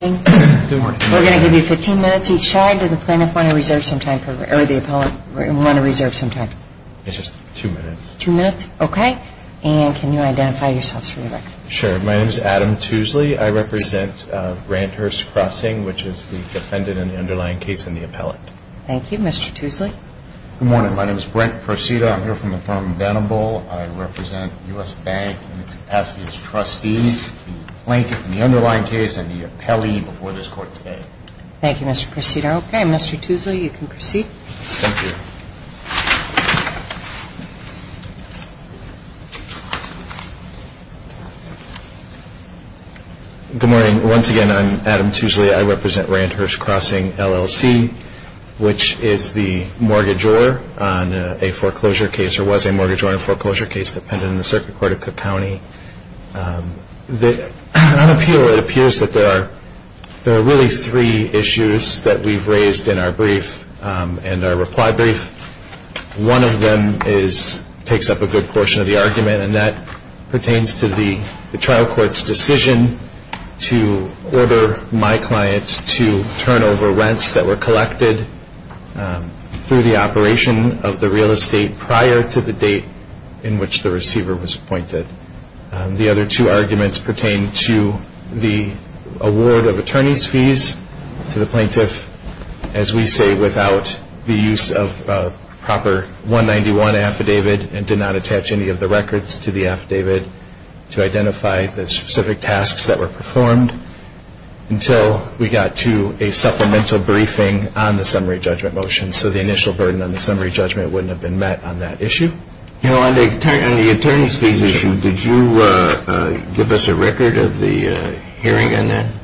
We're going to give you 15 minutes each side. Does the plaintiff want to reserve some time, or the appellant want to reserve some time? It's just two minutes. Two minutes? Okay. And can you identify yourselves for the record? Sure. My name is Adam Tuesley. I represent Randhurst Crossing, which is the defendant in the underlying case and the appellant. Thank you. Mr. Tuesley? Good morning. My name is Brent Procida. I'm here from the firm Venable. I represent U.S. Bank in its capacity as trustee. The plaintiff in the underlying case and the appellee before this Court today. Thank you, Mr. Procida. Okay, Mr. Tuesley, you can proceed. Thank you. Good morning. Once again, I'm Adam Tuesley. I represent Randhurst Crossing, LLC, which is the mortgage owner on a foreclosure case or was a mortgage owner on a foreclosure case that appended in the Circuit Court of Cook County. On appeal, it appears that there are really three issues that we've raised in our brief and our reply brief. One of them takes up a good portion of the argument, and that pertains to the trial court's decision to order my client to turn over rents that were collected through the operation of the real estate prior to the date in which the receiver was appointed. The other two arguments pertain to the award of attorney's fees to the plaintiff, as we say, without the use of a proper 191 affidavit and did not attach any of the records to the affidavit to identify the specific tasks that were performed until we got to a supplemental briefing on the summary judgment motion, so the initial burden on the summary judgment wouldn't have been met on that issue. You know, on the attorney's fees issue, did you give us a record of the hearing on that?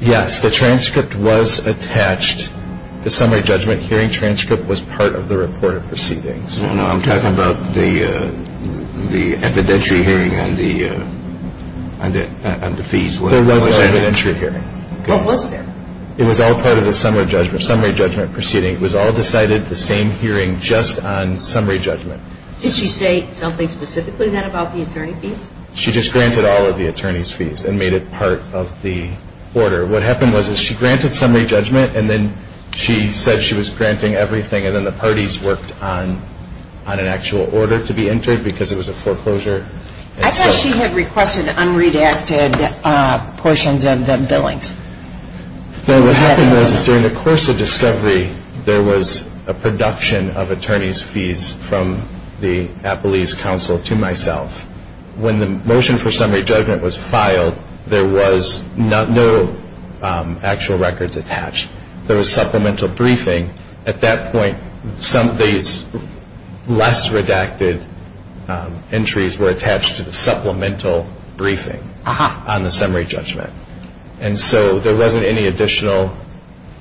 Yes. The transcript was attached. The summary judgment hearing transcript was part of the report of proceedings. No, no. I'm talking about the evidentiary hearing on the fees. There was no evidentiary hearing. What was there? It was all part of the summary judgment proceeding. It was all decided, the same hearing, just on summary judgment. Did she say something specifically then about the attorney fees? She just granted all of the attorney's fees and made it part of the order. What happened was she granted summary judgment, and then she said she was granting everything, and then the parties worked on an actual order to be entered because it was a foreclosure. I thought she had requested unredacted portions of the billings. What happened was during the course of discovery, there was a production of attorney's fees from the Appalese Council to myself. When the motion for summary judgment was filed, there was no actual records attached. There was supplemental briefing. At that point, some of these less redacted entries were attached to the supplemental briefing on the summary judgment. And so there wasn't any additional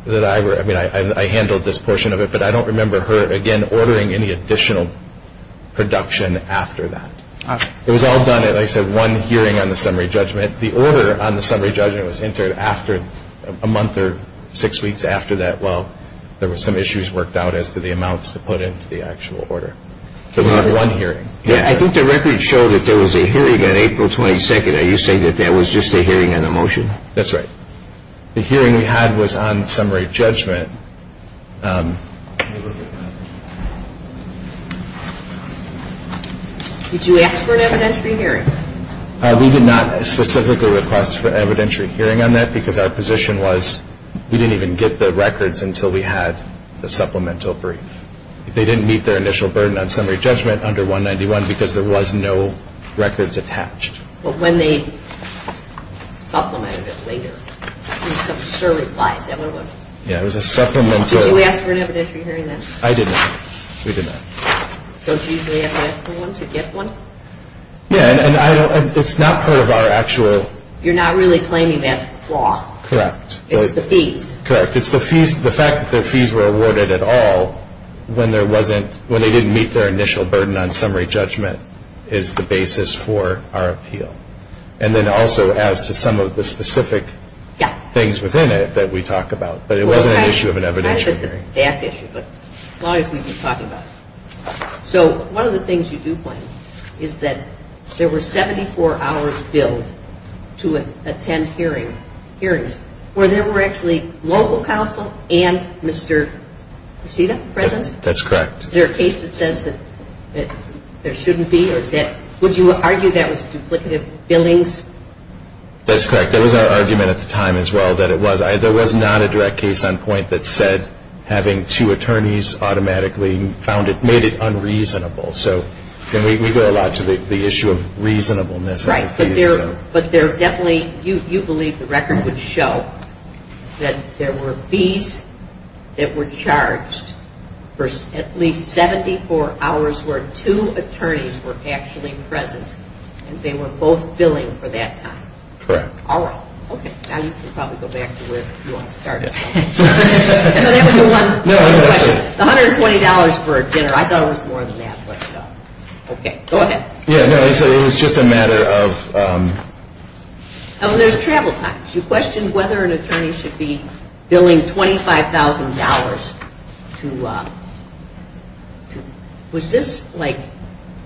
that I were – I mean, I handled this portion of it, but I don't remember her, again, ordering any additional production after that. It was all done at, like I said, one hearing on the summary judgment. The order on the summary judgment was entered after a month or six weeks after that. Well, there were some issues worked out as to the amounts to put into the actual order. It was at one hearing. I think the records show that there was a hearing on April 22nd. Are you saying that that was just a hearing on the motion? That's right. The hearing we had was on summary judgment. Did you ask for an evidentiary hearing? We did not specifically request for evidentiary hearing on that because our position was we didn't even get the records until we had the supplemental brief. They didn't meet their initial burden on summary judgment under 191 because there was no records attached. But when they supplemented it later, there were some surreplies. Yeah, it was a supplemental – Did you ask for an evidentiary hearing then? I did not. We did not. Don't you usually have to ask for one to get one? Yeah, and it's not part of our actual – You're not really claiming that's the flaw. Correct. It's the fees. Correct. It's the fees. The fact that their fees were awarded at all when they didn't meet their initial burden on summary judgment is the basis for our appeal. And then also as to some of the specific things within it that we talk about. But it wasn't an issue of an evidentiary hearing. I said the fact issue, but as long as we can talk about it. So one of the things you do point to is that there were 74 hours billed to attend hearings where there were actually local counsel and Mr. Reseda present? That's correct. Is there a case that says that there shouldn't be? Would you argue that was duplicative billings? That's correct. There was an argument at the time as well that it was. There was not a direct case on point that said having two attorneys automatically made it unreasonable. So we go a lot to the issue of reasonableness. Right. But you believe the record would show that there were fees that were charged for at least 74 hours where two attorneys were actually present and they were both billing for that time? Correct. All right. Okay. Now you can probably go back to where you want to start. No, that was the one. The $120 for a dinner. I thought it was more than that. Okay. Go ahead. No, it was just a matter of. There's travel times. You questioned whether an attorney should be billing $25,000 to, was this like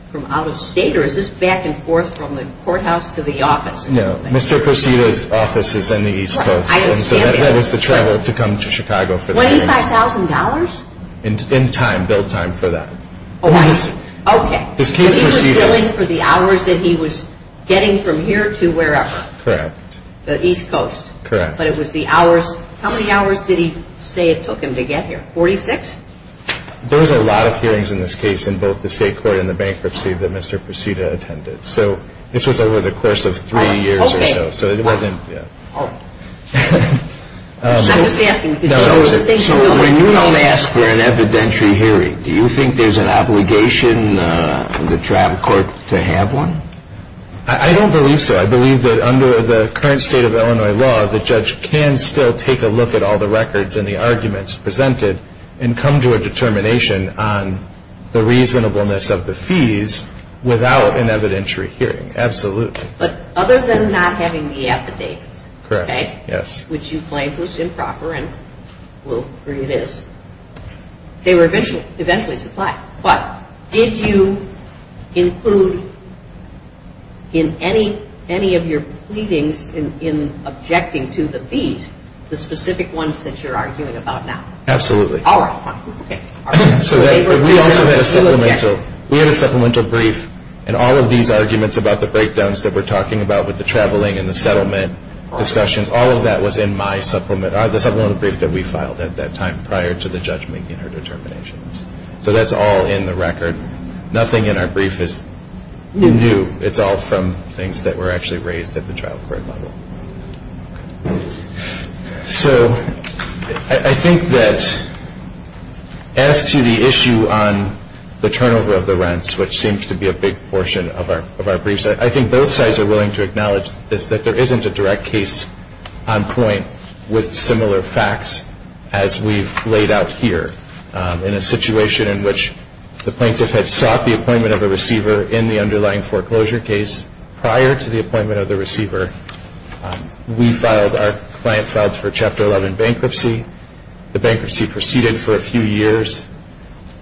from out of state or is this back and forth from the courthouse to the office? No. Mr. Prosita's office is in the East Coast. So that was the travel to come to Chicago. $25,000? In time, bill time for that. Oh, I see. Okay. Because he was billing for the hours that he was getting from here to wherever. Correct. The East Coast. Correct. But it was the hours. How many hours did he say it took him to get here? 46? There was a lot of hearings in this case in both the state court and the bankruptcy that Mr. Prosita attended. So this was over the course of three years or so. Oh, okay. So it wasn't. Oh. So I'm just asking. So when you don't ask for an evidentiary hearing, do you think there's an obligation in the travel court to have one? I don't believe so. I believe that under the current state of Illinois law, the judge can still take a look at all the records and the arguments presented and come to a determination on the reasonableness of the fees without an evidentiary hearing. Absolutely. But other than not having the affidavits. Correct. Okay? Yes. Which you claim was improper, and we'll agree it is, they were eventually supplied. But did you include in any of your pleadings in objecting to the fees the specific ones that you're arguing about now? Absolutely. All right. Okay. So we also had a supplemental brief, and all of these arguments about the breakdowns that we're talking about with the traveling and the settlement discussions, all of that was in my supplement, the supplemental brief that we filed at that time prior to the judge making her determinations. So that's all in the record. Nothing in our brief is new. It's all from things that were actually raised at the travel court level. So I think that as to the issue on the turnover of the rents, which seems to be a big portion of our briefs, I think both sides are willing to acknowledge this, that there isn't a direct case on point with similar facts as we've laid out here in a situation in which the plaintiff had sought the appointment of a receiver in the underlying foreclosure case prior to the appointment of the receiver. We filed, our client filed for Chapter 11 bankruptcy. The bankruptcy proceeded for a few years.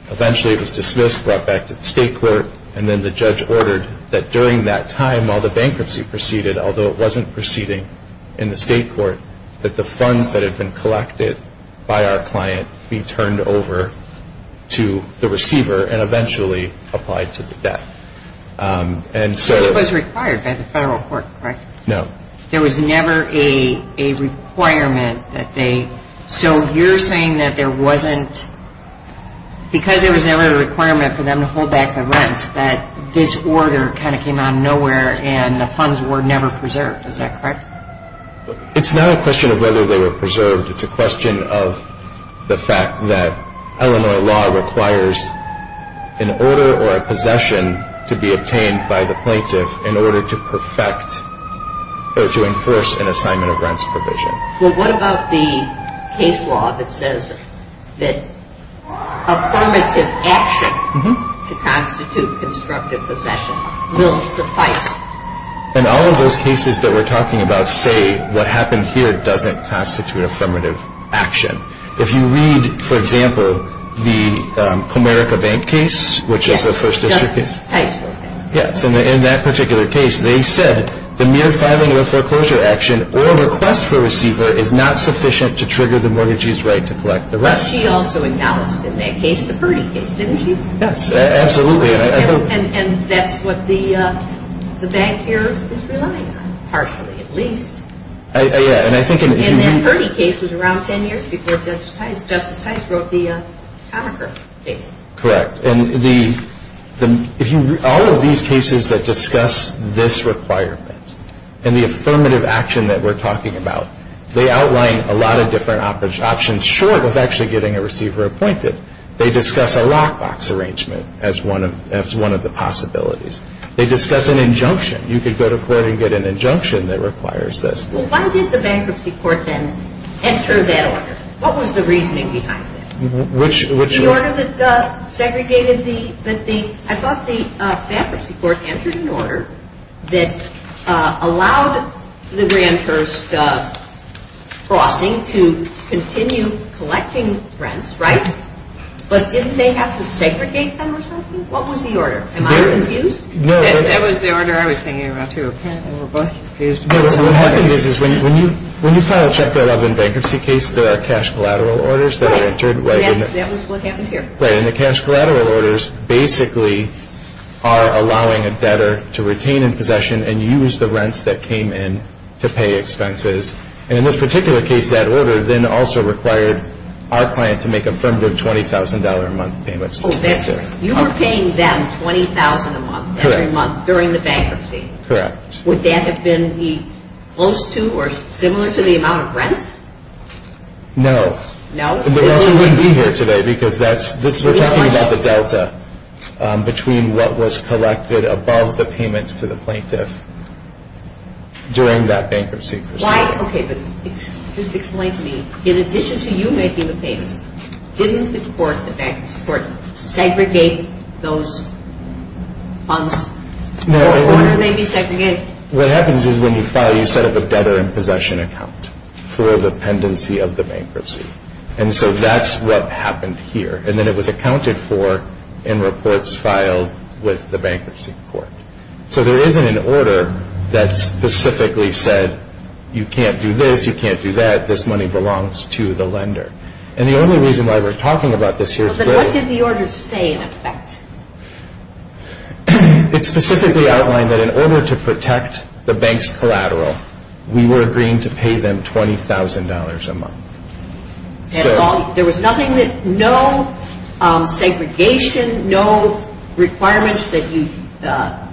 Eventually it was dismissed, brought back to the state court, and then the judge ordered that during that time while the bankruptcy proceeded, although it wasn't proceeding in the state court, that the funds that had been collected by our client be turned over to the receiver and eventually applied to the debt. So it was required by the federal court, correct? No. There was never a requirement that they, so you're saying that there wasn't, because there was never a requirement for them to hold back the rents, that this order kind of came out of nowhere and the funds were never preserved. Is that correct? It's not a question of whether they were preserved. It's a question of the fact that Illinois law requires an order or a possession to be obtained by the plaintiff in order to perfect or to enforce an assignment of rents provision. Well, what about the case law that says that affirmative action to constitute constructive possession will suffice? And all of those cases that we're talking about say what happened here doesn't constitute affirmative action. If you read, for example, the Comerica Bank case, which is a First District case. In that particular case, they said the mere filing of a foreclosure action or request for a receiver is not sufficient to trigger the mortgagee's right to collect the rest. But she also acknowledged in that case, the Purdy case, didn't she? Yes, absolutely. And that's what the bank here is relying on, partially at least. And that Purdy case was around 10 years before Justice Tice wrote the Comerica case. Correct. And all of these cases that discuss this requirement and the affirmative action that we're talking about, they outline a lot of different options short of actually getting a receiver appointed. They discuss a lockbox arrangement as one of the possibilities. They discuss an injunction. You could go to court and get an injunction that requires this. Well, why did the bankruptcy court then enter that order? What was the reasoning behind that? Which one? The order that segregated the – I thought the bankruptcy court entered an order that allowed the renters crossing to continue collecting rents, right? But didn't they have to segregate them or something? What was the order? Am I confused? No. That was the order I was thinking about, too. But what happened is when you file a check-out of a bankruptcy case, there are cash collateral orders that are entered. Right. That was what happened here. Right. And the cash collateral orders basically are allowing a debtor to retain in possession and use the rents that came in to pay expenses. And in this particular case, that order then also required our client to make affirmative $20,000 a month payments. You were paying them $20,000 a month every month during the bankruptcy. Correct. Would that have been close to or similar to the amount of rents? No. No? We wouldn't be here today because we're talking about the delta between what was collected above the payments to the plaintiff during that bankruptcy. Okay, but just explain to me, in addition to you making the payments, didn't the court segregate those funds? No. Why would they be segregated? What happens is when you file, you set up a debtor in possession account for the pendency of the bankruptcy. And so that's what happened here. And then it was accounted for in reports filed with the bankruptcy court. So there isn't an order that specifically said you can't do this, you can't do that, this money belongs to the lender. And the only reason why we're talking about this here is because What did the order say in effect? It specifically outlined that in order to protect the bank's collateral, we were agreeing to pay them $20,000 a month. There was nothing that, no segregation, no requirements that you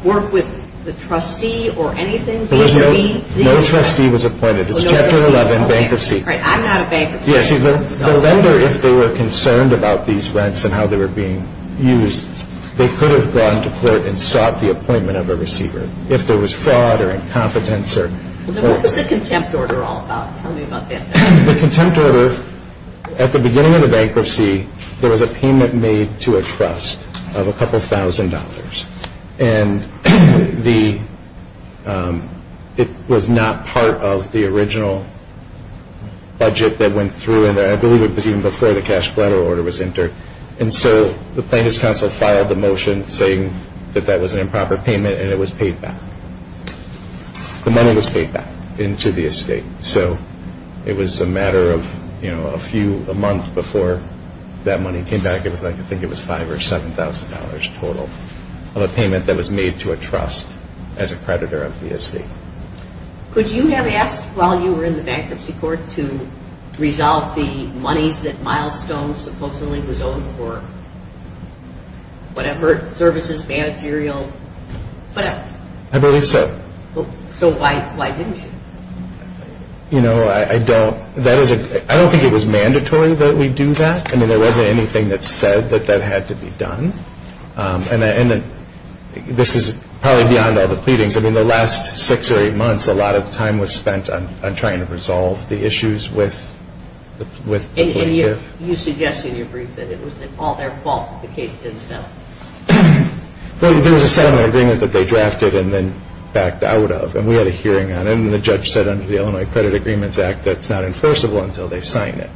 work with the trustee or anything? No trustee was appointed. It's Chapter 11, Bankruptcy. I'm not a bankruptcy. The lender, if they were concerned about these rents and how they were being used, they could have gone to court and sought the appointment of a receiver. If there was fraud or incompetence. What was the contempt order all about? Tell me about that. The contempt order, at the beginning of the bankruptcy, there was a payment made to a trust of a couple thousand dollars. And it was not part of the original budget that went through, and I believe it was even before the cash collateral order was entered. And so the plaintiff's counsel filed the motion saying that that was an improper payment and it was paid back. The money was paid back into the estate. So it was a matter of a few, a month before that money came back. I think it was $5,000 or $7,000 total of a payment that was made to a trust as a creditor of the estate. Could you have asked while you were in the bankruptcy court to resolve the monies that Milestone supposedly was owed for whatever services, managerial, whatever? I believe so. So why didn't you? You know, I don't think it was mandatory that we do that. I mean, there wasn't anything that said that that had to be done. And this is probably beyond all the pleadings. I mean, the last six or eight months, And you suggest in your brief that it was all their fault that the case didn't settle. Well, there was a settlement agreement that they drafted and then backed out of, and we had a hearing on it. And the judge said under the Illinois Credit Agreements Act that it's not enforceable until they sign it.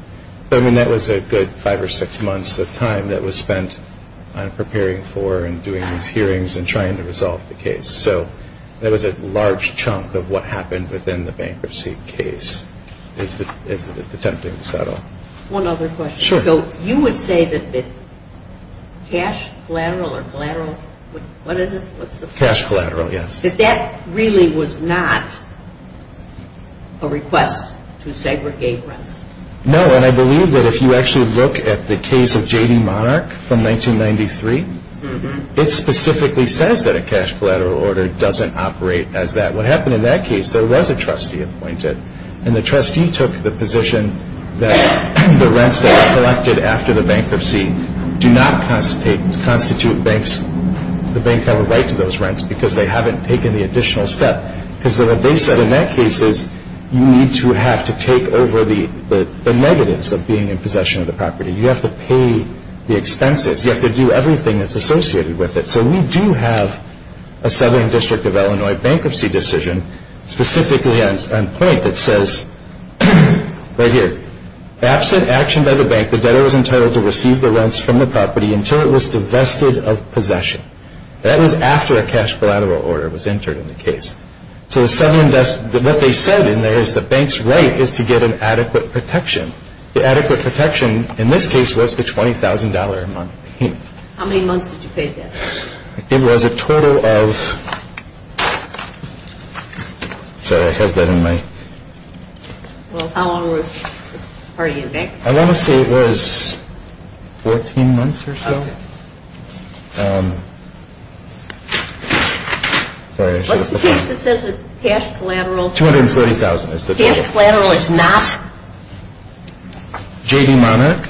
I mean, that was a good five or six months of time that was spent on preparing for and doing these hearings and trying to resolve the case. So that was a large chunk of what happened within the bankruptcy case that is attempting to settle. One other question. Sure. So you would say that cash collateral or collateral, what is it? Cash collateral, yes. That that really was not a request to segregate rents? No, and I believe that if you actually look at the case of J.D. Monarch from 1993, it specifically says that a cash collateral order doesn't operate as that. What happened in that case, there was a trustee appointed, and the trustee took the position that the rents that were collected after the bankruptcy do not constitute banks, the banks have a right to those rents because they haven't taken the additional step. Because what they said in that case is you need to have to take over the negatives of being in possession of the property. You have to pay the expenses. You have to do everything that's associated with it. So we do have a Southern District of Illinois bankruptcy decision specifically on point that says right here, absent action by the bank, the debtor was entitled to receive the rents from the property until it was divested of possession. That was after a cash collateral order was entered in the case. So what they said in there is the bank's right is to get an adequate protection. The adequate protection in this case was the $20,000 a month payment. How many months did you pay the debtor? It was a total of – sorry, I have that in my – Well, how long were you in bank? I want to say it was 14 months or so. What's the case that says the cash collateral – $240,000 is the total. Cash collateral is not? J.D. Monarch.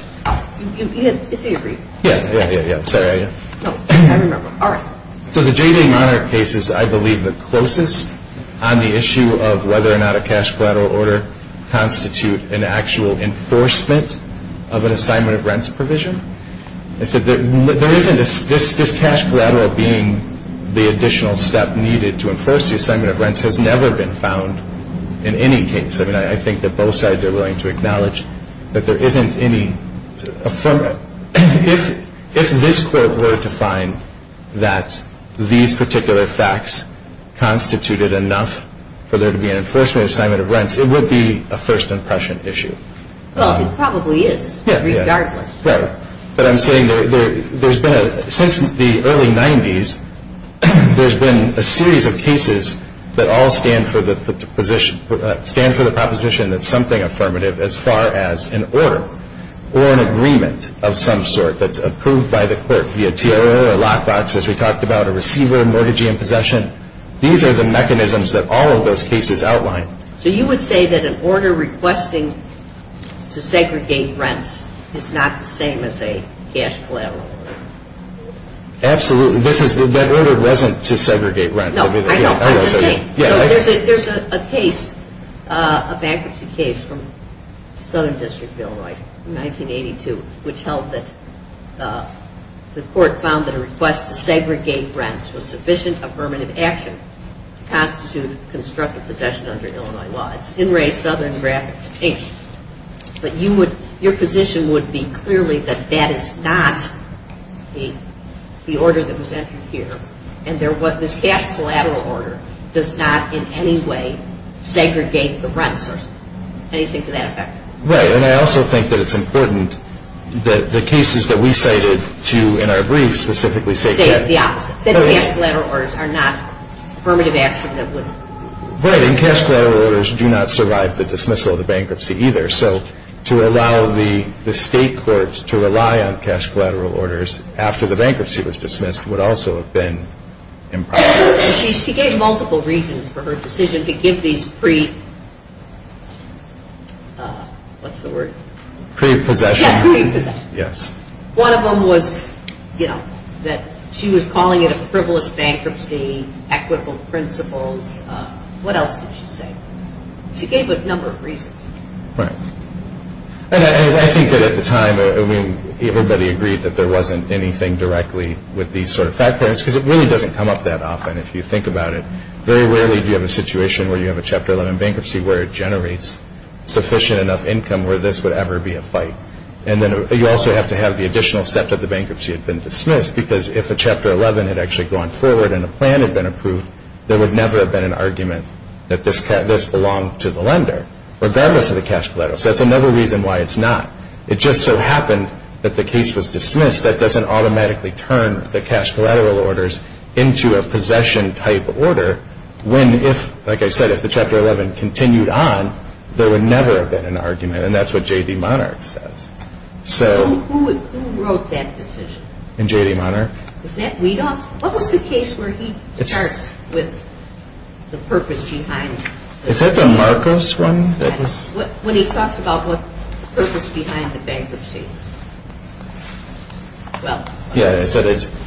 It's agreed. Yeah, yeah, yeah. No, I remember. All right. So the J.D. Monarch case is, I believe, the closest on the issue of whether or not a cash collateral order constitute an actual enforcement of an assignment of rents provision. This cash collateral being the additional step needed to enforce the assignment of rents has never been found in any case. I mean, I think that both sides are willing to acknowledge that there isn't any – If this Court were to find that these particular facts constituted enough for there to be an enforcement assignment of rents, it would be a first impression issue. Well, it probably is, regardless. Right. But I'm saying there's been a – since the early 90s, there's been a series of cases that all stand for the proposition that something affirmative, as far as an order or an agreement of some sort that's approved by the court, via TRO or lockbox, as we talked about, a receiver, mortgagee in possession. These are the mechanisms that all of those cases outline. So you would say that an order requesting to segregate rents is not the same as a cash collateral order? That order wasn't to segregate rents. No, I know. I'm just saying. So there's a case, a bankruptcy case from Southern District of Illinois in 1982, which held that the court found that a request to segregate rents was sufficient affirmative action to constitute constructive possession under Illinois laws. It's in re Southern graphics. But your position would be clearly that that is not the order that was entered here, and this cash collateral order does not in any way segregate the rents. Anything to that effect? Right. And I also think that it's important that the cases that we cited in our briefs specifically say – Say the opposite. That the cash collateral orders are not affirmative action that would – Right. And cash collateral orders do not survive the dismissal of the bankruptcy either. So to allow the state courts to rely on cash collateral orders after the bankruptcy was dismissed would also have been improper. She gave multiple reasons for her decision to give these pre – what's the word? Pre-possession. Yeah, pre-possession. Yes. One of them was, you know, that she was calling it a frivolous bankruptcy, equitable principles. What else did she say? She gave a number of reasons. Right. And I think that at the time, I mean, everybody agreed that there wasn't anything directly with these sort of factors because it really doesn't come up that often if you think about it. Very rarely do you have a situation where you have a Chapter 11 bankruptcy where it generates sufficient enough income where this would ever be a fight. And then you also have to have the additional step that the bankruptcy had been dismissed because if a Chapter 11 had actually gone forward and a plan had been approved, there would never have been an argument that this belonged to the lender, regardless of the cash collateral. So that's another reason why it's not. It just so happened that the case was dismissed. That doesn't automatically turn the cash collateral orders into a possession-type order when if, like I said, if the Chapter 11 continued on, there would never have been an argument. And that's what J.D. Monarch says. So – Who wrote that decision? J.D. Monarch. Is that – we don't – what was the case where he starts with the purpose behind it? Is that the Marcos one that was – When he talks about the purpose behind the bankruptcy. Well – Yeah, so it's –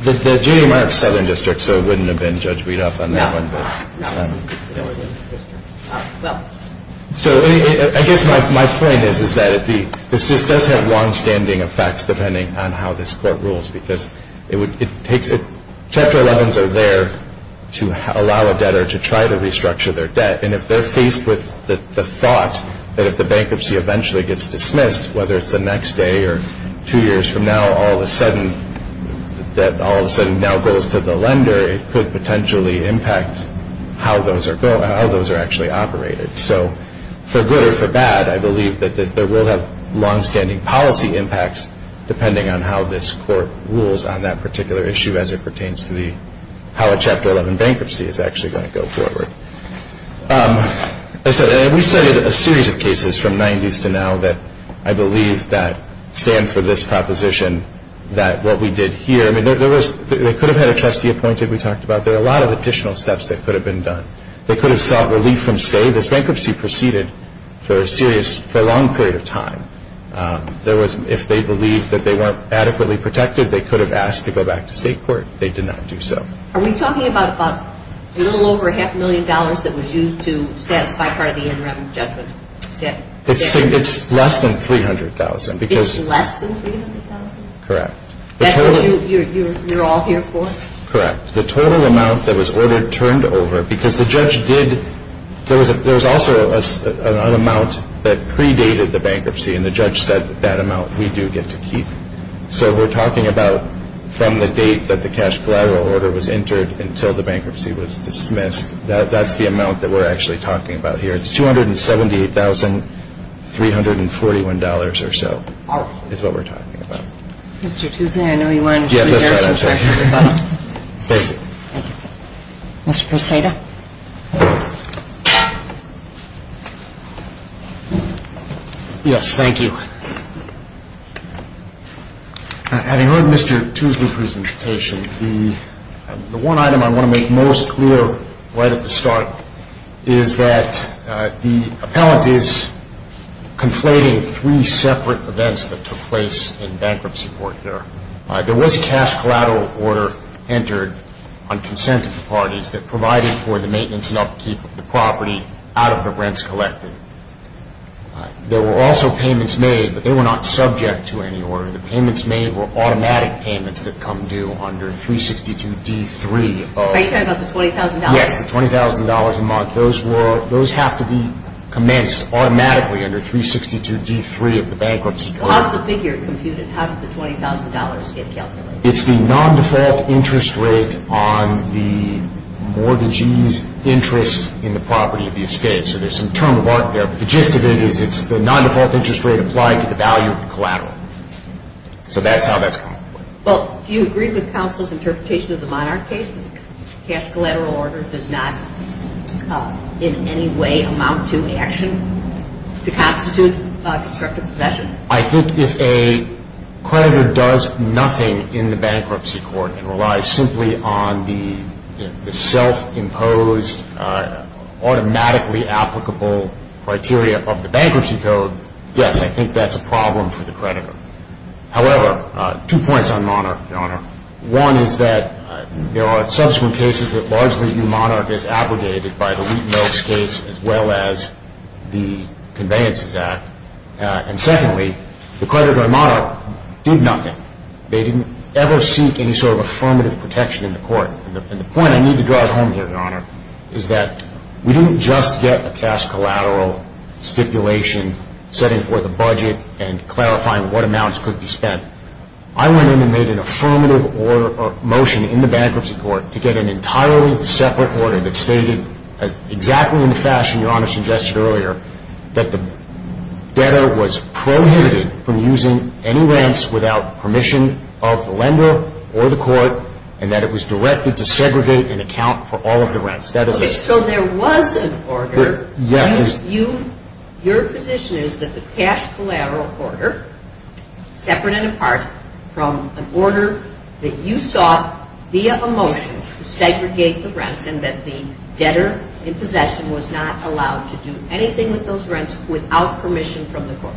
the J.D. Monarch Southern District, so it wouldn't have been Judge Breedop on that one. No, no. Well – So I guess my point is that this does have longstanding effects depending on how this Court rules because it takes – Chapter 11s are there to allow a debtor to try to restructure their debt. And if they're faced with the thought that if the bankruptcy eventually gets dismissed, whether it's the next day or two years from now, all of a sudden, that all of a sudden now goes to the lender, it could potentially impact how those are actually operated. So for good or for bad, I believe that there will have longstanding policy impacts depending on how this Court rules on that particular issue as it pertains to the – how a Chapter 11 bankruptcy is actually going to go forward. As I said, we studied a series of cases from the 90s to now that I believe that stand for this proposition that what we did here – I mean, there was – they could have had a trustee appointed, we talked about. There are a lot of additional steps that could have been done. They could have sought relief from stay. This bankruptcy proceeded for a serious – for a long period of time. There was – if they believed that they weren't adequately protected, they could have asked to go back to state court. They did not do so. Are we talking about a little over half a million dollars that was used to satisfy part of the interim judgment? It's less than 300,000 because – It's less than 300,000? Correct. That's what you're all here for? Correct. The total amount that was ordered turned over because the judge did – there was also an amount that predated the bankruptcy, and the judge said that amount we do get to keep. So we're talking about from the date that the cash collateral order was entered until the bankruptcy was dismissed. That's the amount that we're actually talking about here. It's $278,341 or so is what we're talking about. Mr. Toussaint, I know you wanted to share some facts with us. Thank you. Thank you. Mr. Perceda. Yes, thank you. Having heard Mr. Toussaint's presentation, the one item I want to make most clear right at the start is that the appellant is conflating three separate events that took place in bankruptcy court here. There was a cash collateral order entered on consent of the parties that provided for the maintenance and upkeep of the property out of the rents collected. There were also payments made, but they were not subject to any order. The payments made were automatic payments that come due under 362D3. Are you talking about the $20,000? Yes, the $20,000 a month. Those have to be commenced automatically under 362D3 of the bankruptcy court. How is the figure computed? How did the $20,000 get calculated? It's the non-default interest rate on the mortgagee's interest in the property of the estate. So there's some term of art there, but the gist of it is it's the non-default interest rate applied to the value of the collateral. So that's how that's calculated. Well, do you agree with counsel's interpretation of the Monarch case that the cash collateral order does not in any way amount to action to constitute constructive possession? I think if a creditor does nothing in the bankruptcy court and relies simply on the self-imposed, automatically applicable criteria of the bankruptcy code, yes, I think that's a problem for the creditor. However, two points on Monarch, Your Honor. One is that there are subsequent cases that largely view Monarch as abrogated by the Wheat and Milk case as well as the Conveyances Act. And secondly, the creditor in Monarch did nothing. They didn't ever seek any sort of affirmative protection in the court. And the point I need to draw home here, Your Honor, is that we didn't just get a cash collateral stipulation setting forth a budget and clarifying what amounts could be spent. I went in and made an affirmative motion in the bankruptcy court to get an entirely separate order that stated exactly in the fashion Your Honor suggested earlier that the debtor was prohibited from using any rents without permission of the lender or the court and that it was directed to segregate and account for all of the rents. So there was an order. Yes. Your position is that the cash collateral order, separate and apart from an order that you sought via a motion to segregate the rents and that the debtor in possession was not allowed to do anything with those rents without permission from the court?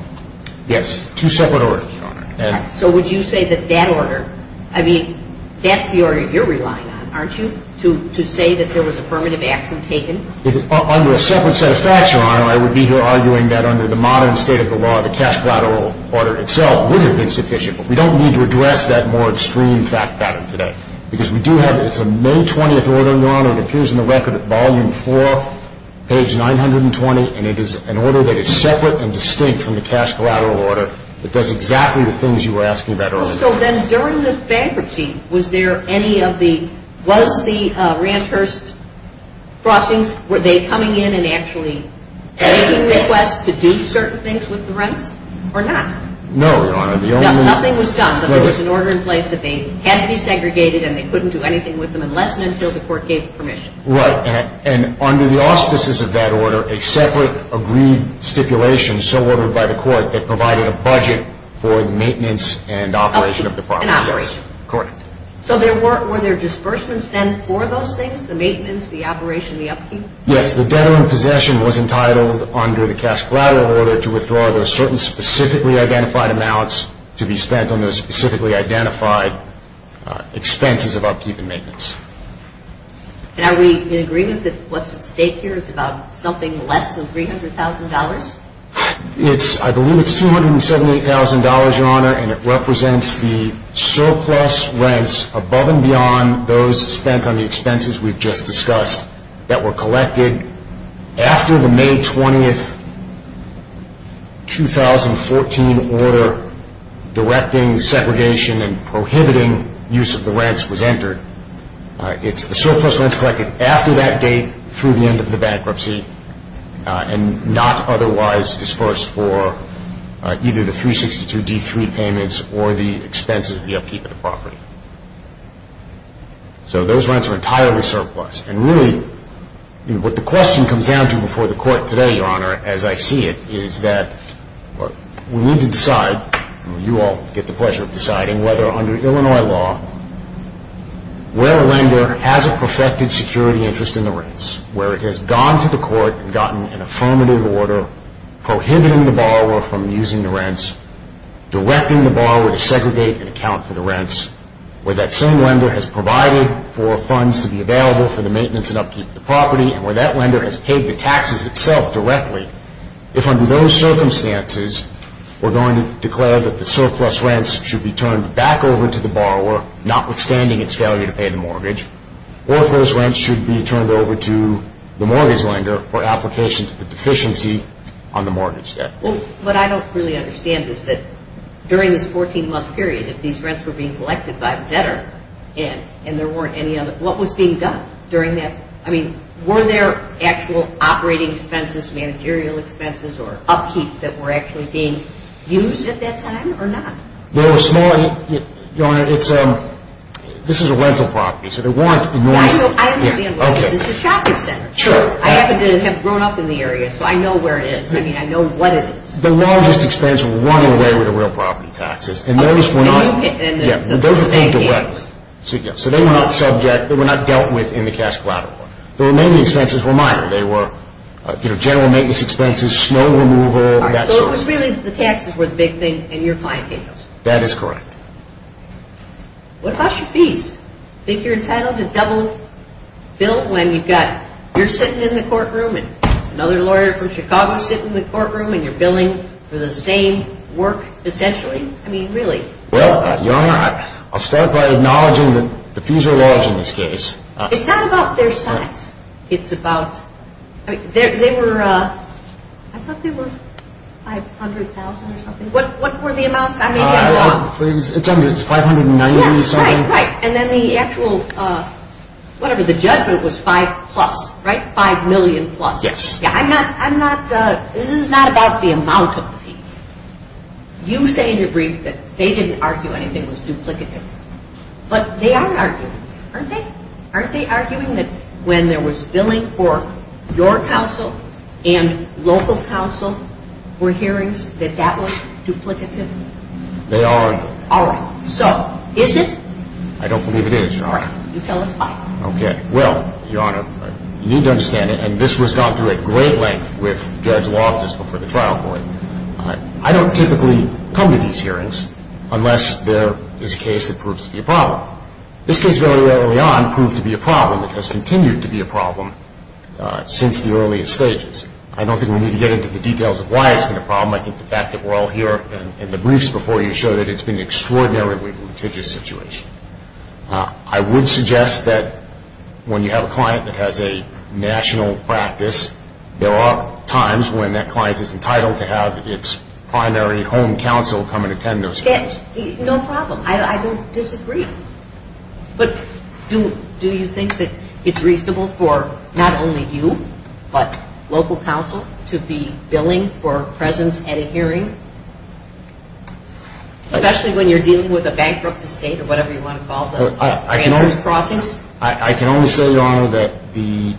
Yes, two separate orders, Your Honor. So would you say that that order, I mean, that's the order you're relying on, aren't you, to say that there was affirmative action taken? Under a separate set of facts, Your Honor, I would be here arguing that under the modern state of the law, the cash collateral order itself would have been sufficient. But we don't need to address that more extreme fact pattern today. Because we do have it. It's a May 20th order, Your Honor. It appears in the record at volume 4, page 920, and it is an order that is separate and distinct from the cash collateral order that does exactly the things you were asking about earlier. So then during the bankruptcy, was there any of the, was the ranch hearse crossings, were they coming in and actually making requests to do certain things with the rents or not? No, Your Honor. Nothing was done, but there was an order in place that they had to be segregated and they couldn't do anything with them unless and until the court gave permission. Right. And under the auspices of that order, a separate agreed stipulation, so ordered by the court, that provided a budget for maintenance and operation of the property. And operation. Correct. So were there disbursements then for those things, the maintenance, the operation, the upkeep? Yes. The debtor in possession was entitled under the cash collateral order to withdraw those certain specifically identified amounts to be spent on those specifically identified expenses of upkeep and maintenance. And are we in agreement that what's at stake here is about something less than $300,000? I believe it's $278,000, Your Honor, and it represents the surplus rents above and beyond those spent on the expenses we've just discussed that were collected after the May 20, 2014 order directing segregation and prohibiting use of the rents was entered. It's the surplus rents collected after that date through the end of the bankruptcy and not otherwise disbursed for either the 362D3 payments So those rents are entirely surplus. And really, what the question comes down to before the court today, Your Honor, as I see it, is that we need to decide, and you all get the pleasure of deciding, whether under Illinois law, where a lender has a perfected security interest in the rents, where it has gone to the court and gotten an affirmative order prohibiting the borrower from using the rents, directing the borrower to segregate and account for the rents, where that same lender has provided for funds to be available for the maintenance and upkeep of the property, and where that lender has paid the taxes itself directly, if under those circumstances we're going to declare that the surplus rents should be turned back over to the borrower, notwithstanding its failure to pay the mortgage, or if those rents should be turned over to the mortgage lender for application to the deficiency on the mortgage debt. Well, what I don't really understand is that during this 14-month period, if these rents were being collected by a debtor and there weren't any other, what was being done during that? I mean, were there actual operating expenses, managerial expenses, or upkeep that were actually being used at that time, or not? They were small. Your Honor, this is a rental property, so there weren't enormous... I understand what it is. It's a shopping center. I happen to have grown up in the area, so I know where it is. I mean, I know what it is. The largest expense were running away with the real property taxes. And those were not... And those were paid directly. So they were not dealt with in the cash collateral. The remaining expenses were minor. They were general maintenance expenses, snow removal, that sort of thing. So it was really the taxes were the big thing, and your client paid those. That is correct. What about your fees? Think you're entitled to double bill when you've got... sitting in the courtroom and you're billing for the same work, essentially? I mean, really? Well, your Honor, I'll start by acknowledging the fees are large in this case. It's not about their size. It's about... They were... I thought they were $500,000 or something. What were the amounts? It's $590,000 or something. Right, right. And then the actual... Whatever, the judgment was five plus, right? Five million plus. Yes. I'm not... This is not about the amount of the fees. You say in your brief that they didn't argue anything was duplicative. But they are arguing, aren't they? Aren't they arguing that when there was billing for your counsel and local counsel for hearings, that that was duplicative? They are. All right. So, is it? I don't believe it is, Your Honor. All right. You tell us why. Okay. Well, Your Honor, you need to understand it, and this was gone through at great length with Judge Loftus before the trial court. I don't typically come to these hearings unless there is a case that proves to be a problem. This case very early on proved to be a problem. It has continued to be a problem since the earliest stages. I don't think we need to get into the details of why it's been a problem. I think the fact that we're all here and the briefs before you show that it's been an extraordinarily litigious situation. I would suggest that when you have a client that has a national practice, there are times when that client is entitled to have its primary home counsel come and attend those hearings. No problem. I don't disagree. But do you think that it's reasonable for not only you but local counsel to be billing for presence at a hearing? Especially when you're dealing with a bankrupt estate or whatever you want to call them. I can only say, Your Honor, that the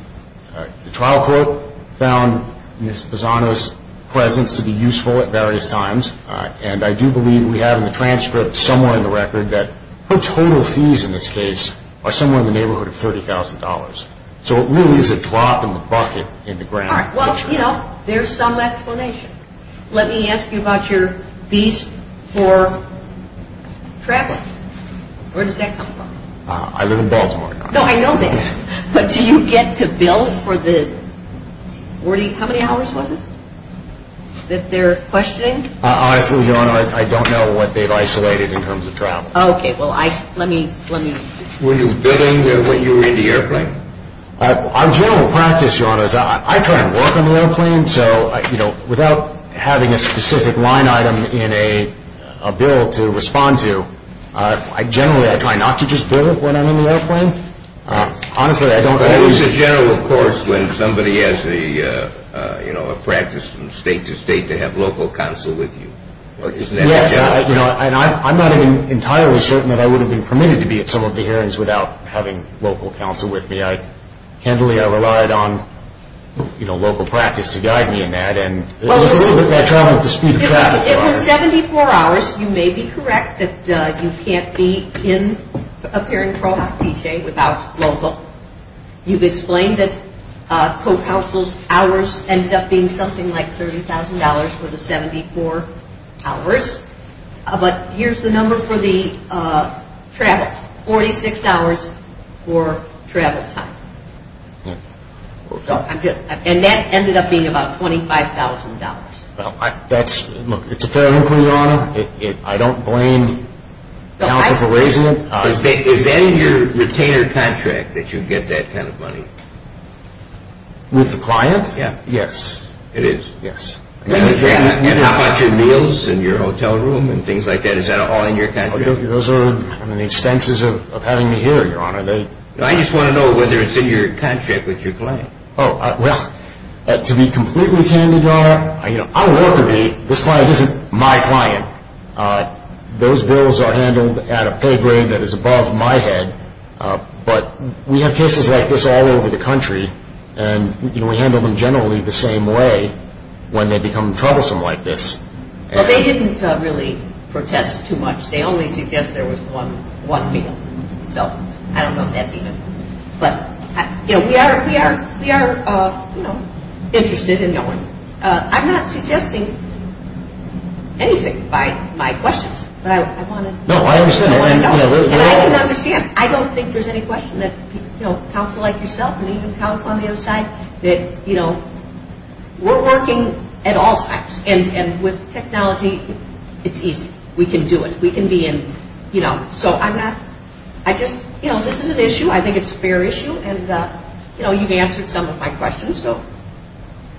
trial court found Ms. Pisano's presence to be useful at various times, and I do believe we have in the transcript somewhere in the record that her total fees in this case are somewhere in the neighborhood of $30,000. So it really is a drop in the bucket in the grand picture. All right. Well, you know, there's some explanation. Let me ask you about your fees for travel. Where does that come from? I live in Baltimore. No, I know that. But do you get to bill for the 40, how many hours was it, that they're questioning? Honestly, Your Honor, I don't know what they've isolated in terms of travel. Okay. Well, let me. Were you billing when you were in the airplane? On general practice, Your Honor, I try to work on the airplane. So, you know, without having a specific line item in a bill to respond to, generally I try not to just bill when I'm in the airplane. Honestly, I don't always. But it was a general course when somebody has a, you know, a practice from state to state to have local counsel with you. Yes, and I'm not even entirely certain that I would have been permitted to be at some of the hearings without having local counsel with me. Generally, I relied on, you know, local practice to guide me in that. And it was a little bit of trouble with the speed of travel, Your Honor. It was 74 hours. You may be correct that you can't be in a parent pro-hoc PCA without local. You've explained that co-counsel's hours ended up being something like $30,000 for the 74 hours. But here's the number for the travel, $46 for travel time. And that ended up being about $25,000. That's, look, it's apparent, Your Honor. I don't blame counsel for raising it. Is then your retainer contract that you get that kind of money? With the client? Yes. It is. Yes. And how about your meals and your hotel room and things like that? Is that all in your contract? Those are the expenses of having me here, Your Honor. I just want to know whether it's in your contract with your client. Oh, well, to be completely candid, Your Honor, I don't want to be. This client isn't my client. Those bills are handled at a pay grade that is above my head. But we have cases like this all over the country. And, you know, we handle them generally the same way when they become troublesome like this. But they didn't really protest too much. They only suggest there was one meal. So I don't know if that's even. But, you know, we are, you know, interested in knowing. I'm not suggesting anything by my questions. But I want to know. No, I understand. And I can understand. I don't think there's any question that, you know, counsel like yourself, and even counsel on the other side, that, you know, we're working at all times. And with technology, it's easy. We can do it. We can be in, you know. So I'm not, I just, you know, this is an issue. I think it's a fair issue. And, you know, you've answered some of my questions, so.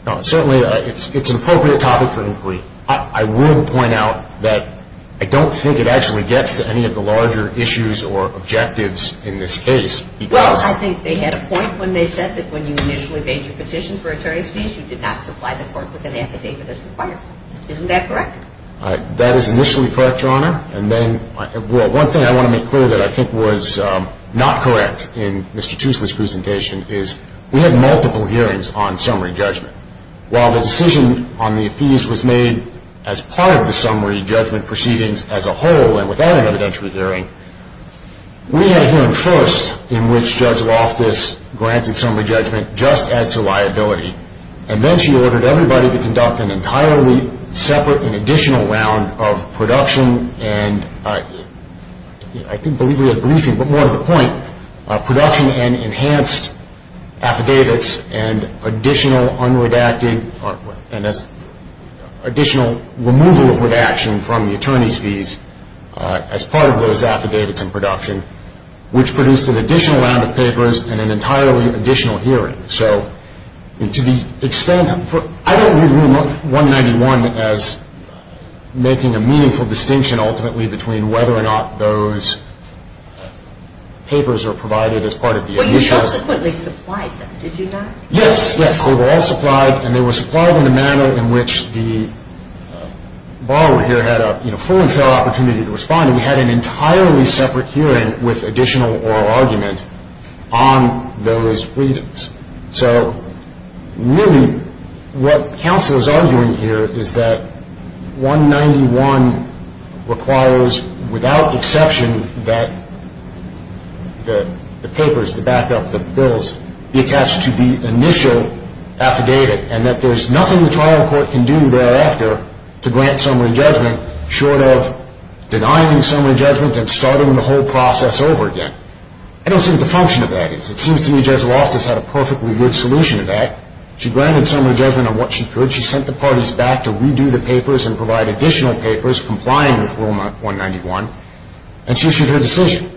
No, certainly it's an appropriate topic for inquiry. I will point out that I don't think it actually gets to any of the larger issues or objectives in this case because. Well, I think they had a point when they said that when you initially made your petition for a tariff you did not supply the court with an affidavit as required. Isn't that correct? That is initially correct, Your Honor. And then, well, one thing I want to make clear that I think was not correct in Mr. Tuesday's presentation is we had multiple hearings on summary judgment. While the decision on the appease was made as part of the summary judgment proceedings as a whole and without an evidentiary hearing, we had a hearing first in which Judge Loftus granted summary judgment just as to liability. And then she ordered everybody to conduct an entirely separate and additional round of production and I think we had a briefing, but more to the point, production and enhanced affidavits and additional unredacting, and that's additional removal of redaction from the attorney's fees as part of those affidavits in production, which produced an additional round of papers and an entirely additional hearing. So to the extent, I don't read Room 191 as making a meaningful distinction ultimately between whether or not those papers are provided as part of the initial. You subsequently supplied them, did you not? Yes, yes, they were all supplied and they were supplied in a manner in which the borrower here had a full and fair opportunity to respond. We had an entirely separate hearing with additional oral argument on those freedoms. So really what counsel is arguing here is that 191 requires without exception that the papers, the backup, the bills be attached to the initial affidavit and that there's nothing the trial court can do thereafter to grant summary judgment short of denying summary judgment and starting the whole process over again. I don't see what the function of that is. It seems to me Judge Loftus had a perfectly good solution to that. She granted summary judgment on what she could. She sent the parties back to redo the papers and provide additional papers complying with Room 191 and she issued her decision.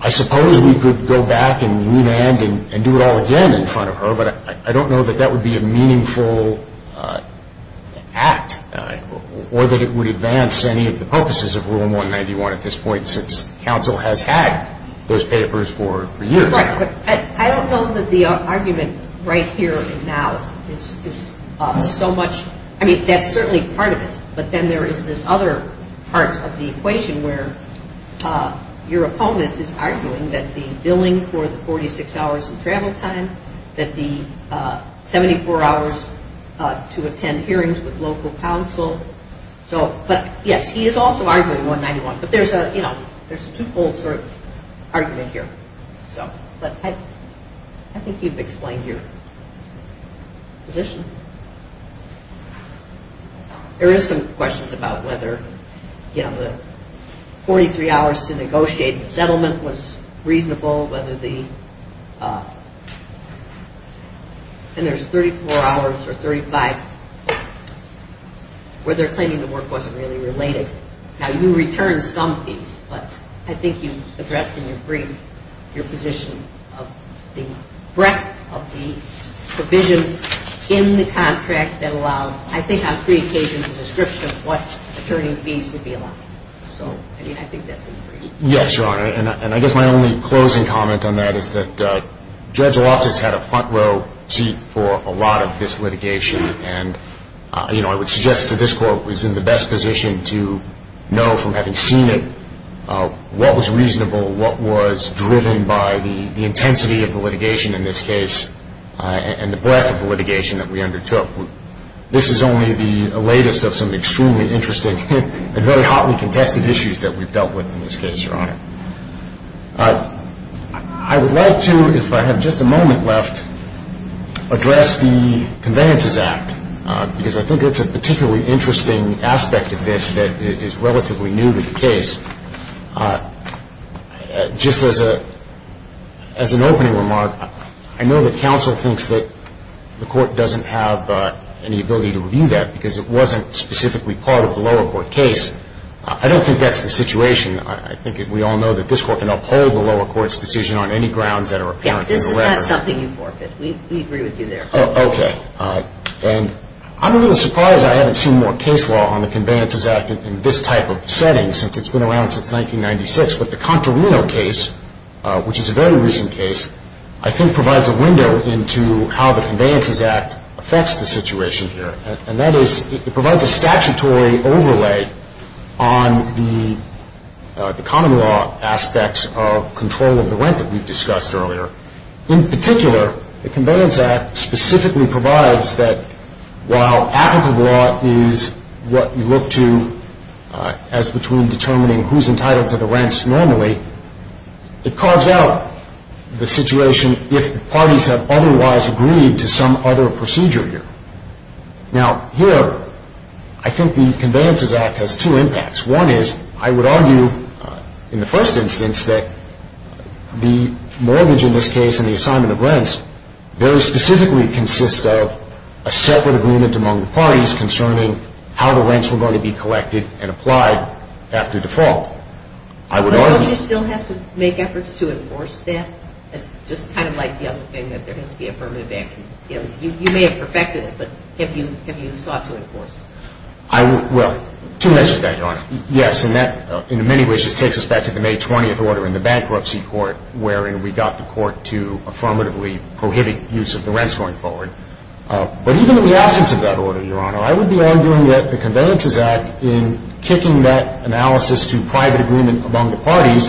I suppose we could go back and remand and do it all again in front of her, but I don't know that that would be a meaningful act or that it would advance any of the purposes of Room 191 at this point since counsel has had those papers for years now. Right, but I don't know that the argument right here and now is so much, I mean that's certainly part of it, but then there is this other part of the equation where your opponent is arguing that the billing for the 46 hours of travel time, that the 74 hours to attend hearings with local counsel, but yes, he is also arguing 191, but there's a two-fold sort of argument here. But I think you've explained your position. There is some questions about whether, you know, the 43 hours to negotiate the settlement was reasonable, whether the, and there's 34 hours or 35 where they're claiming the work wasn't really related. Now, you return some of these, but I think you've addressed in your brief your position of the breadth of the provisions in the contract that allow, I think on three occasions, a description of what attorney fees would be allowed. So, I mean, I think that's important. Yes, Your Honor, and I guess my only closing comment on that is that Judge Loftus had a front row seat for a lot of this litigation, and, you know, I would suggest that this Court was in the best position to know from having seen it what was reasonable, what was driven by the intensity of the litigation in this case, and the breadth of the litigation that we undertook. This is only the latest of some extremely interesting and very hotly contested issues that we've dealt with in this case, Your Honor. I would like to, if I have just a moment left, address the Conveyances Act, because I think it's a particularly interesting aspect of this that is relatively new to the case. Just as an opening remark, I know that counsel thinks that the Court doesn't have any ability to review that because it wasn't specifically part of the lower court case. I don't think that's the situation. I think we all know that this Court can uphold the lower court's decision on any grounds that are apparent in the letter. Yes, this is not something you forfeit. We agree with you there. Okay. And I'm a little surprised I haven't seen more case law on the Conveyances Act in this type of setting since it's been around since 1996. But the Contorino case, which is a very recent case, I think provides a window into how the Conveyances Act affects the situation here, and that is it provides a statutory overlay on the common law aspects of control of the rent that we've discussed earlier. In particular, the Conveyances Act specifically provides that while applicable law is what you look to as between determining who's entitled to the rents normally, it carves out the situation if the parties have otherwise agreed to some other procedure here. Now, here, I think the Conveyances Act has two impacts. One is I would argue in the first instance that the mortgage in this case and the assignment of rents very specifically consist of a separate agreement among the parties concerning how the rents were going to be collected and applied after default. But don't you still have to make efforts to enforce that? It's just kind of like the other thing that there has to be affirmative action. You may have perfected it, but have you thought to enforce it? Well, two measures to that, Your Honor. Yes, and that in many ways just takes us back to the May 20th order in the bankruptcy court wherein we got the court to affirmatively prohibit use of the rents going forward. But even in the absence of that order, Your Honor, I would be arguing that the Conveyances Act in kicking that analysis to private agreement among the parties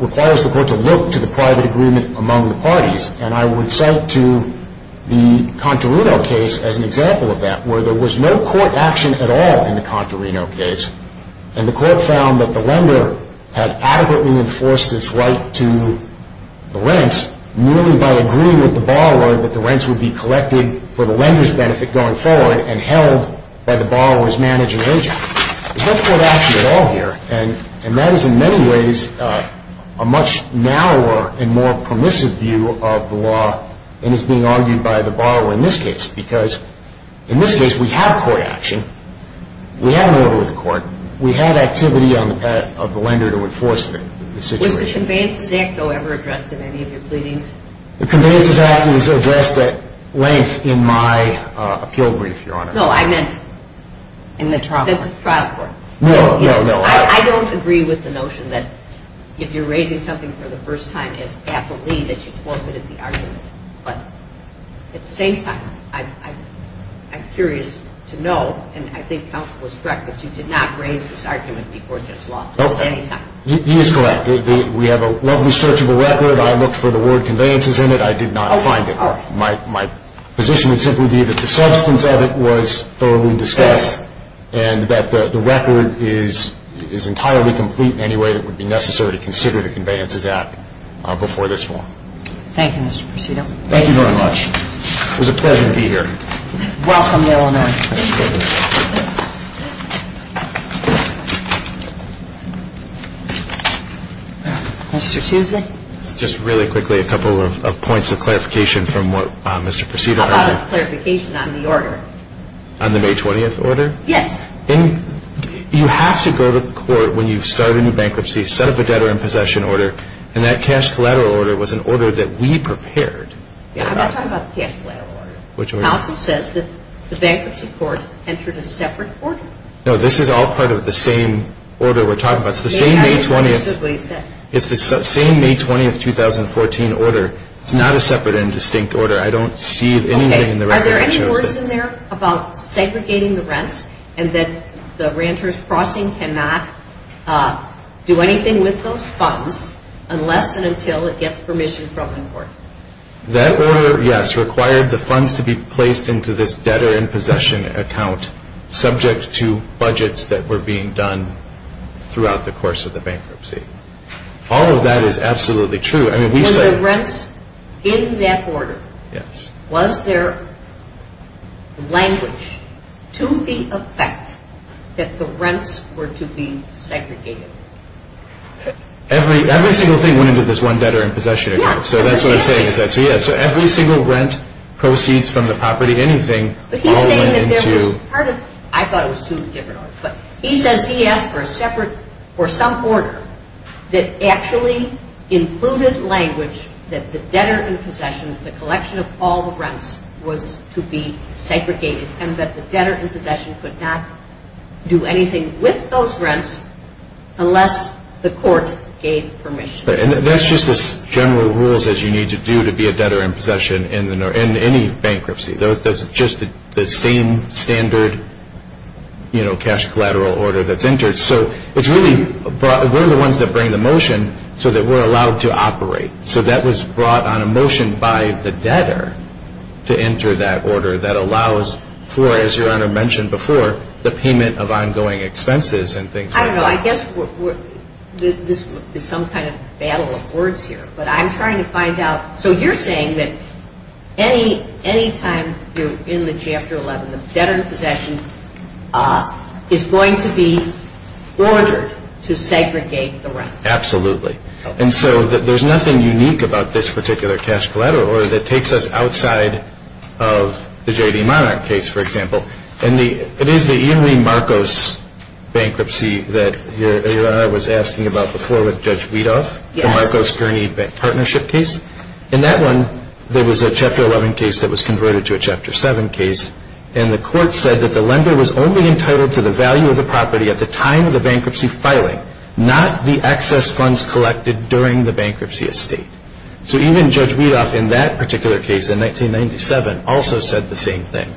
requires the court to look to the private agreement among the parties. And I would cite to the Contorino case as an example of that where there was no court action at all in the Contorino case, and the court found that the lender had adequately enforced its right to the rents merely by agreeing with the borrower that the rents would be collected for the lender's benefit going forward and held by the borrower's managing agent. There's no court action at all here, and that is in many ways a much narrower and more permissive view of the law and is being argued by the borrower in this case because in this case we have court action. We have an order with the court. We have activity of the lender to enforce the situation. Was the Conveyances Act, though, ever addressed in any of your pleadings? The Conveyances Act is addressed at length in my appeal brief, Your Honor. No, I meant in the trial court. No, no, no. I don't agree with the notion that if you're raising something for the first time, it's aptly that you quote it in the argument. But at the same time, I'm curious to know, and I think counsel is correct, that you did not raise this argument before Judge Loftus at any time. He is correct. We have a lovely searchable record. I looked for the word conveyances in it. I did not find it. My position would simply be that the substance of it was thoroughly discussed and that the record is entirely complete in any way that would be necessary to consider the Conveyances Act before this forum. Thank you, Mr. Prosido. Thank you very much. It was a pleasure to be here. Welcome, Your Honor. Thank you. Mr. Tuesday. Just really quickly, a couple of points of clarification from what Mr. Prosido had. How about a clarification on the order? On the May 20th order? Yes. You have to go to court when you start a new bankruptcy, set up a debtor in possession order, and that cash collateral order was an order that we prepared. I'm not talking about the cash collateral order. Which order? Counsel says that the bankruptcy court entered a separate order. No, this is all part of the same order we're talking about. It's the same May 20th 2014 order. I don't see anything in the record that shows this. Are there any words in there about segregating the rents and that the renters crossing cannot do anything with those funds unless and until it gets permission from the court? That order, yes, required the funds to be placed into this debtor in possession account subject to budgets that were being done throughout the course of the bankruptcy. All of that is absolutely true. Were the rents in that order? Yes. Was there language to the effect that the rents were to be segregated? Every single thing went into this one debtor in possession account. So that's what I'm saying. So, yes, every single rent proceeds from the property, anything, all went into. I thought it was two different orders. But he says he asked for a separate or some order that actually included language that the debtor in possession, the collection of all the rents was to be segregated and that the debtor in possession could not do anything with those rents unless the court gave permission. That's just as general rules as you need to do to be a debtor in possession in any bankruptcy. That's just the same standard cash collateral order that's entered. So it's really we're the ones that bring the motion so that we're allowed to operate. So that was brought on a motion by the debtor to enter that order that allows for, as Your Honor mentioned before, the payment of ongoing expenses and things like that. I don't know. I guess this is some kind of battle of words here. But I'm trying to find out. So you're saying that any time you're in the Chapter 11, the debtor in possession is going to be ordered to segregate the rents. Absolutely. And so there's nothing unique about this particular cash collateral order that takes us outside of the J.D. Monarch case, for example. And it is the Ian Lee Marcos bankruptcy that Your Honor was asking about before with Judge Weedoff, the Marcos Gurney bank partnership case. In that one, there was a Chapter 11 case that was converted to a Chapter 7 case. And the court said that the lender was only entitled to the value of the property at the time of the bankruptcy filing, not the excess funds collected during the bankruptcy estate. So even Judge Weedoff in that particular case in 1997 also said the same thing.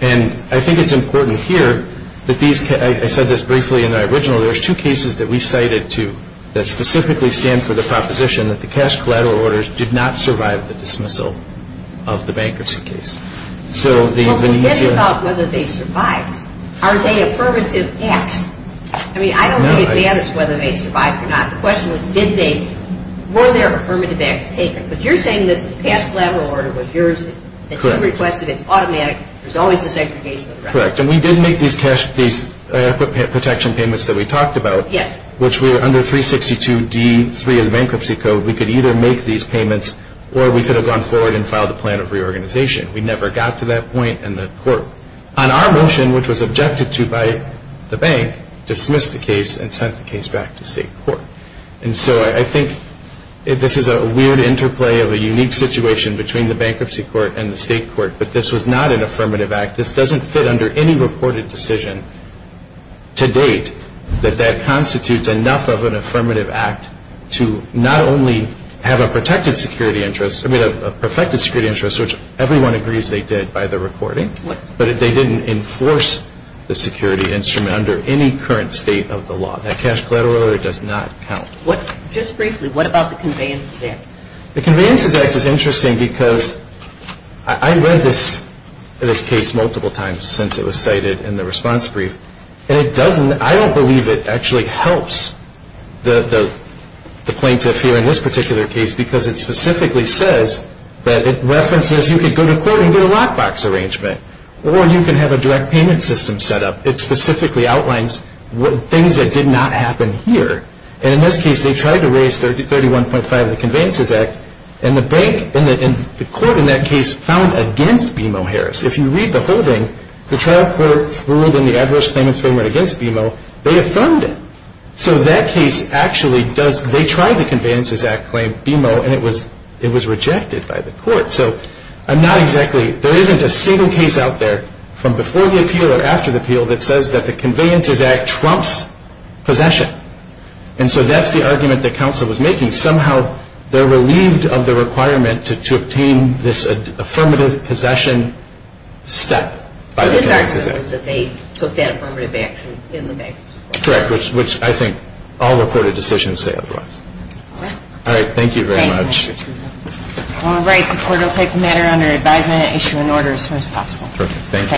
And I think it's important here that these – I said this briefly in the original. There's two cases that we cited that specifically stand for the proposition that the cash collateral orders did not survive the dismissal of the bankruptcy case. So the Venetian – Well, forget about whether they survived. Are they affirmative acts? I mean, I don't think it matters whether they survived or not. The question was did they – were there affirmative acts taken? But you're saying that the cash collateral order was yours. That you requested. It's automatic. There's always the segregation of the rents. That's correct. And we did make these protection payments that we talked about. Yes. Which were under 362D3 of the Bankruptcy Code. We could either make these payments or we could have gone forward and filed a plan of reorganization. We never got to that point in the court. On our motion, which was objected to by the bank, dismissed the case and sent the case back to state court. And so I think this is a weird interplay of a unique situation between the bankruptcy court and the state court. But this was not an affirmative act. This doesn't fit under any reported decision to date that that constitutes enough of an affirmative act to not only have a protected security interest – I mean, a perfected security interest, which everyone agrees they did by the reporting. But they didn't enforce the security instrument under any current state of the law. That cash collateral order does not count. Just briefly, what about the Conveyances Act? The Conveyances Act is interesting because I read this case multiple times. I've read it multiple times since it was cited in the response brief. And I don't believe it actually helps the plaintiff here in this particular case because it specifically says that it references you could go to court and get a lockbox arrangement or you can have a direct payment system set up. It specifically outlines things that did not happen here. And in this case, they tried to raise 31.5 of the Conveyances Act. And the court in that case found against BMO Harris. If you read the whole thing, the trial court ruled in the Adverse Claimants Framework against BMO. They affirmed it. So that case actually does – they tried the Conveyances Act claim BMO and it was rejected by the court. So I'm not exactly – there isn't a single case out there from before the appeal or after the appeal that says that the Conveyances Act trumps possession. And so that's the argument that counsel was making. Somehow they're relieved of the requirement to obtain this affirmative possession step by the Conveyances Act. The disargument was that they took that affirmative action in the bank. Correct, which I think all recorded decisions say otherwise. All right. Thank you very much. All right. The court will take the matter under advisement and issue an order as soon as possible. Perfect. Thank you.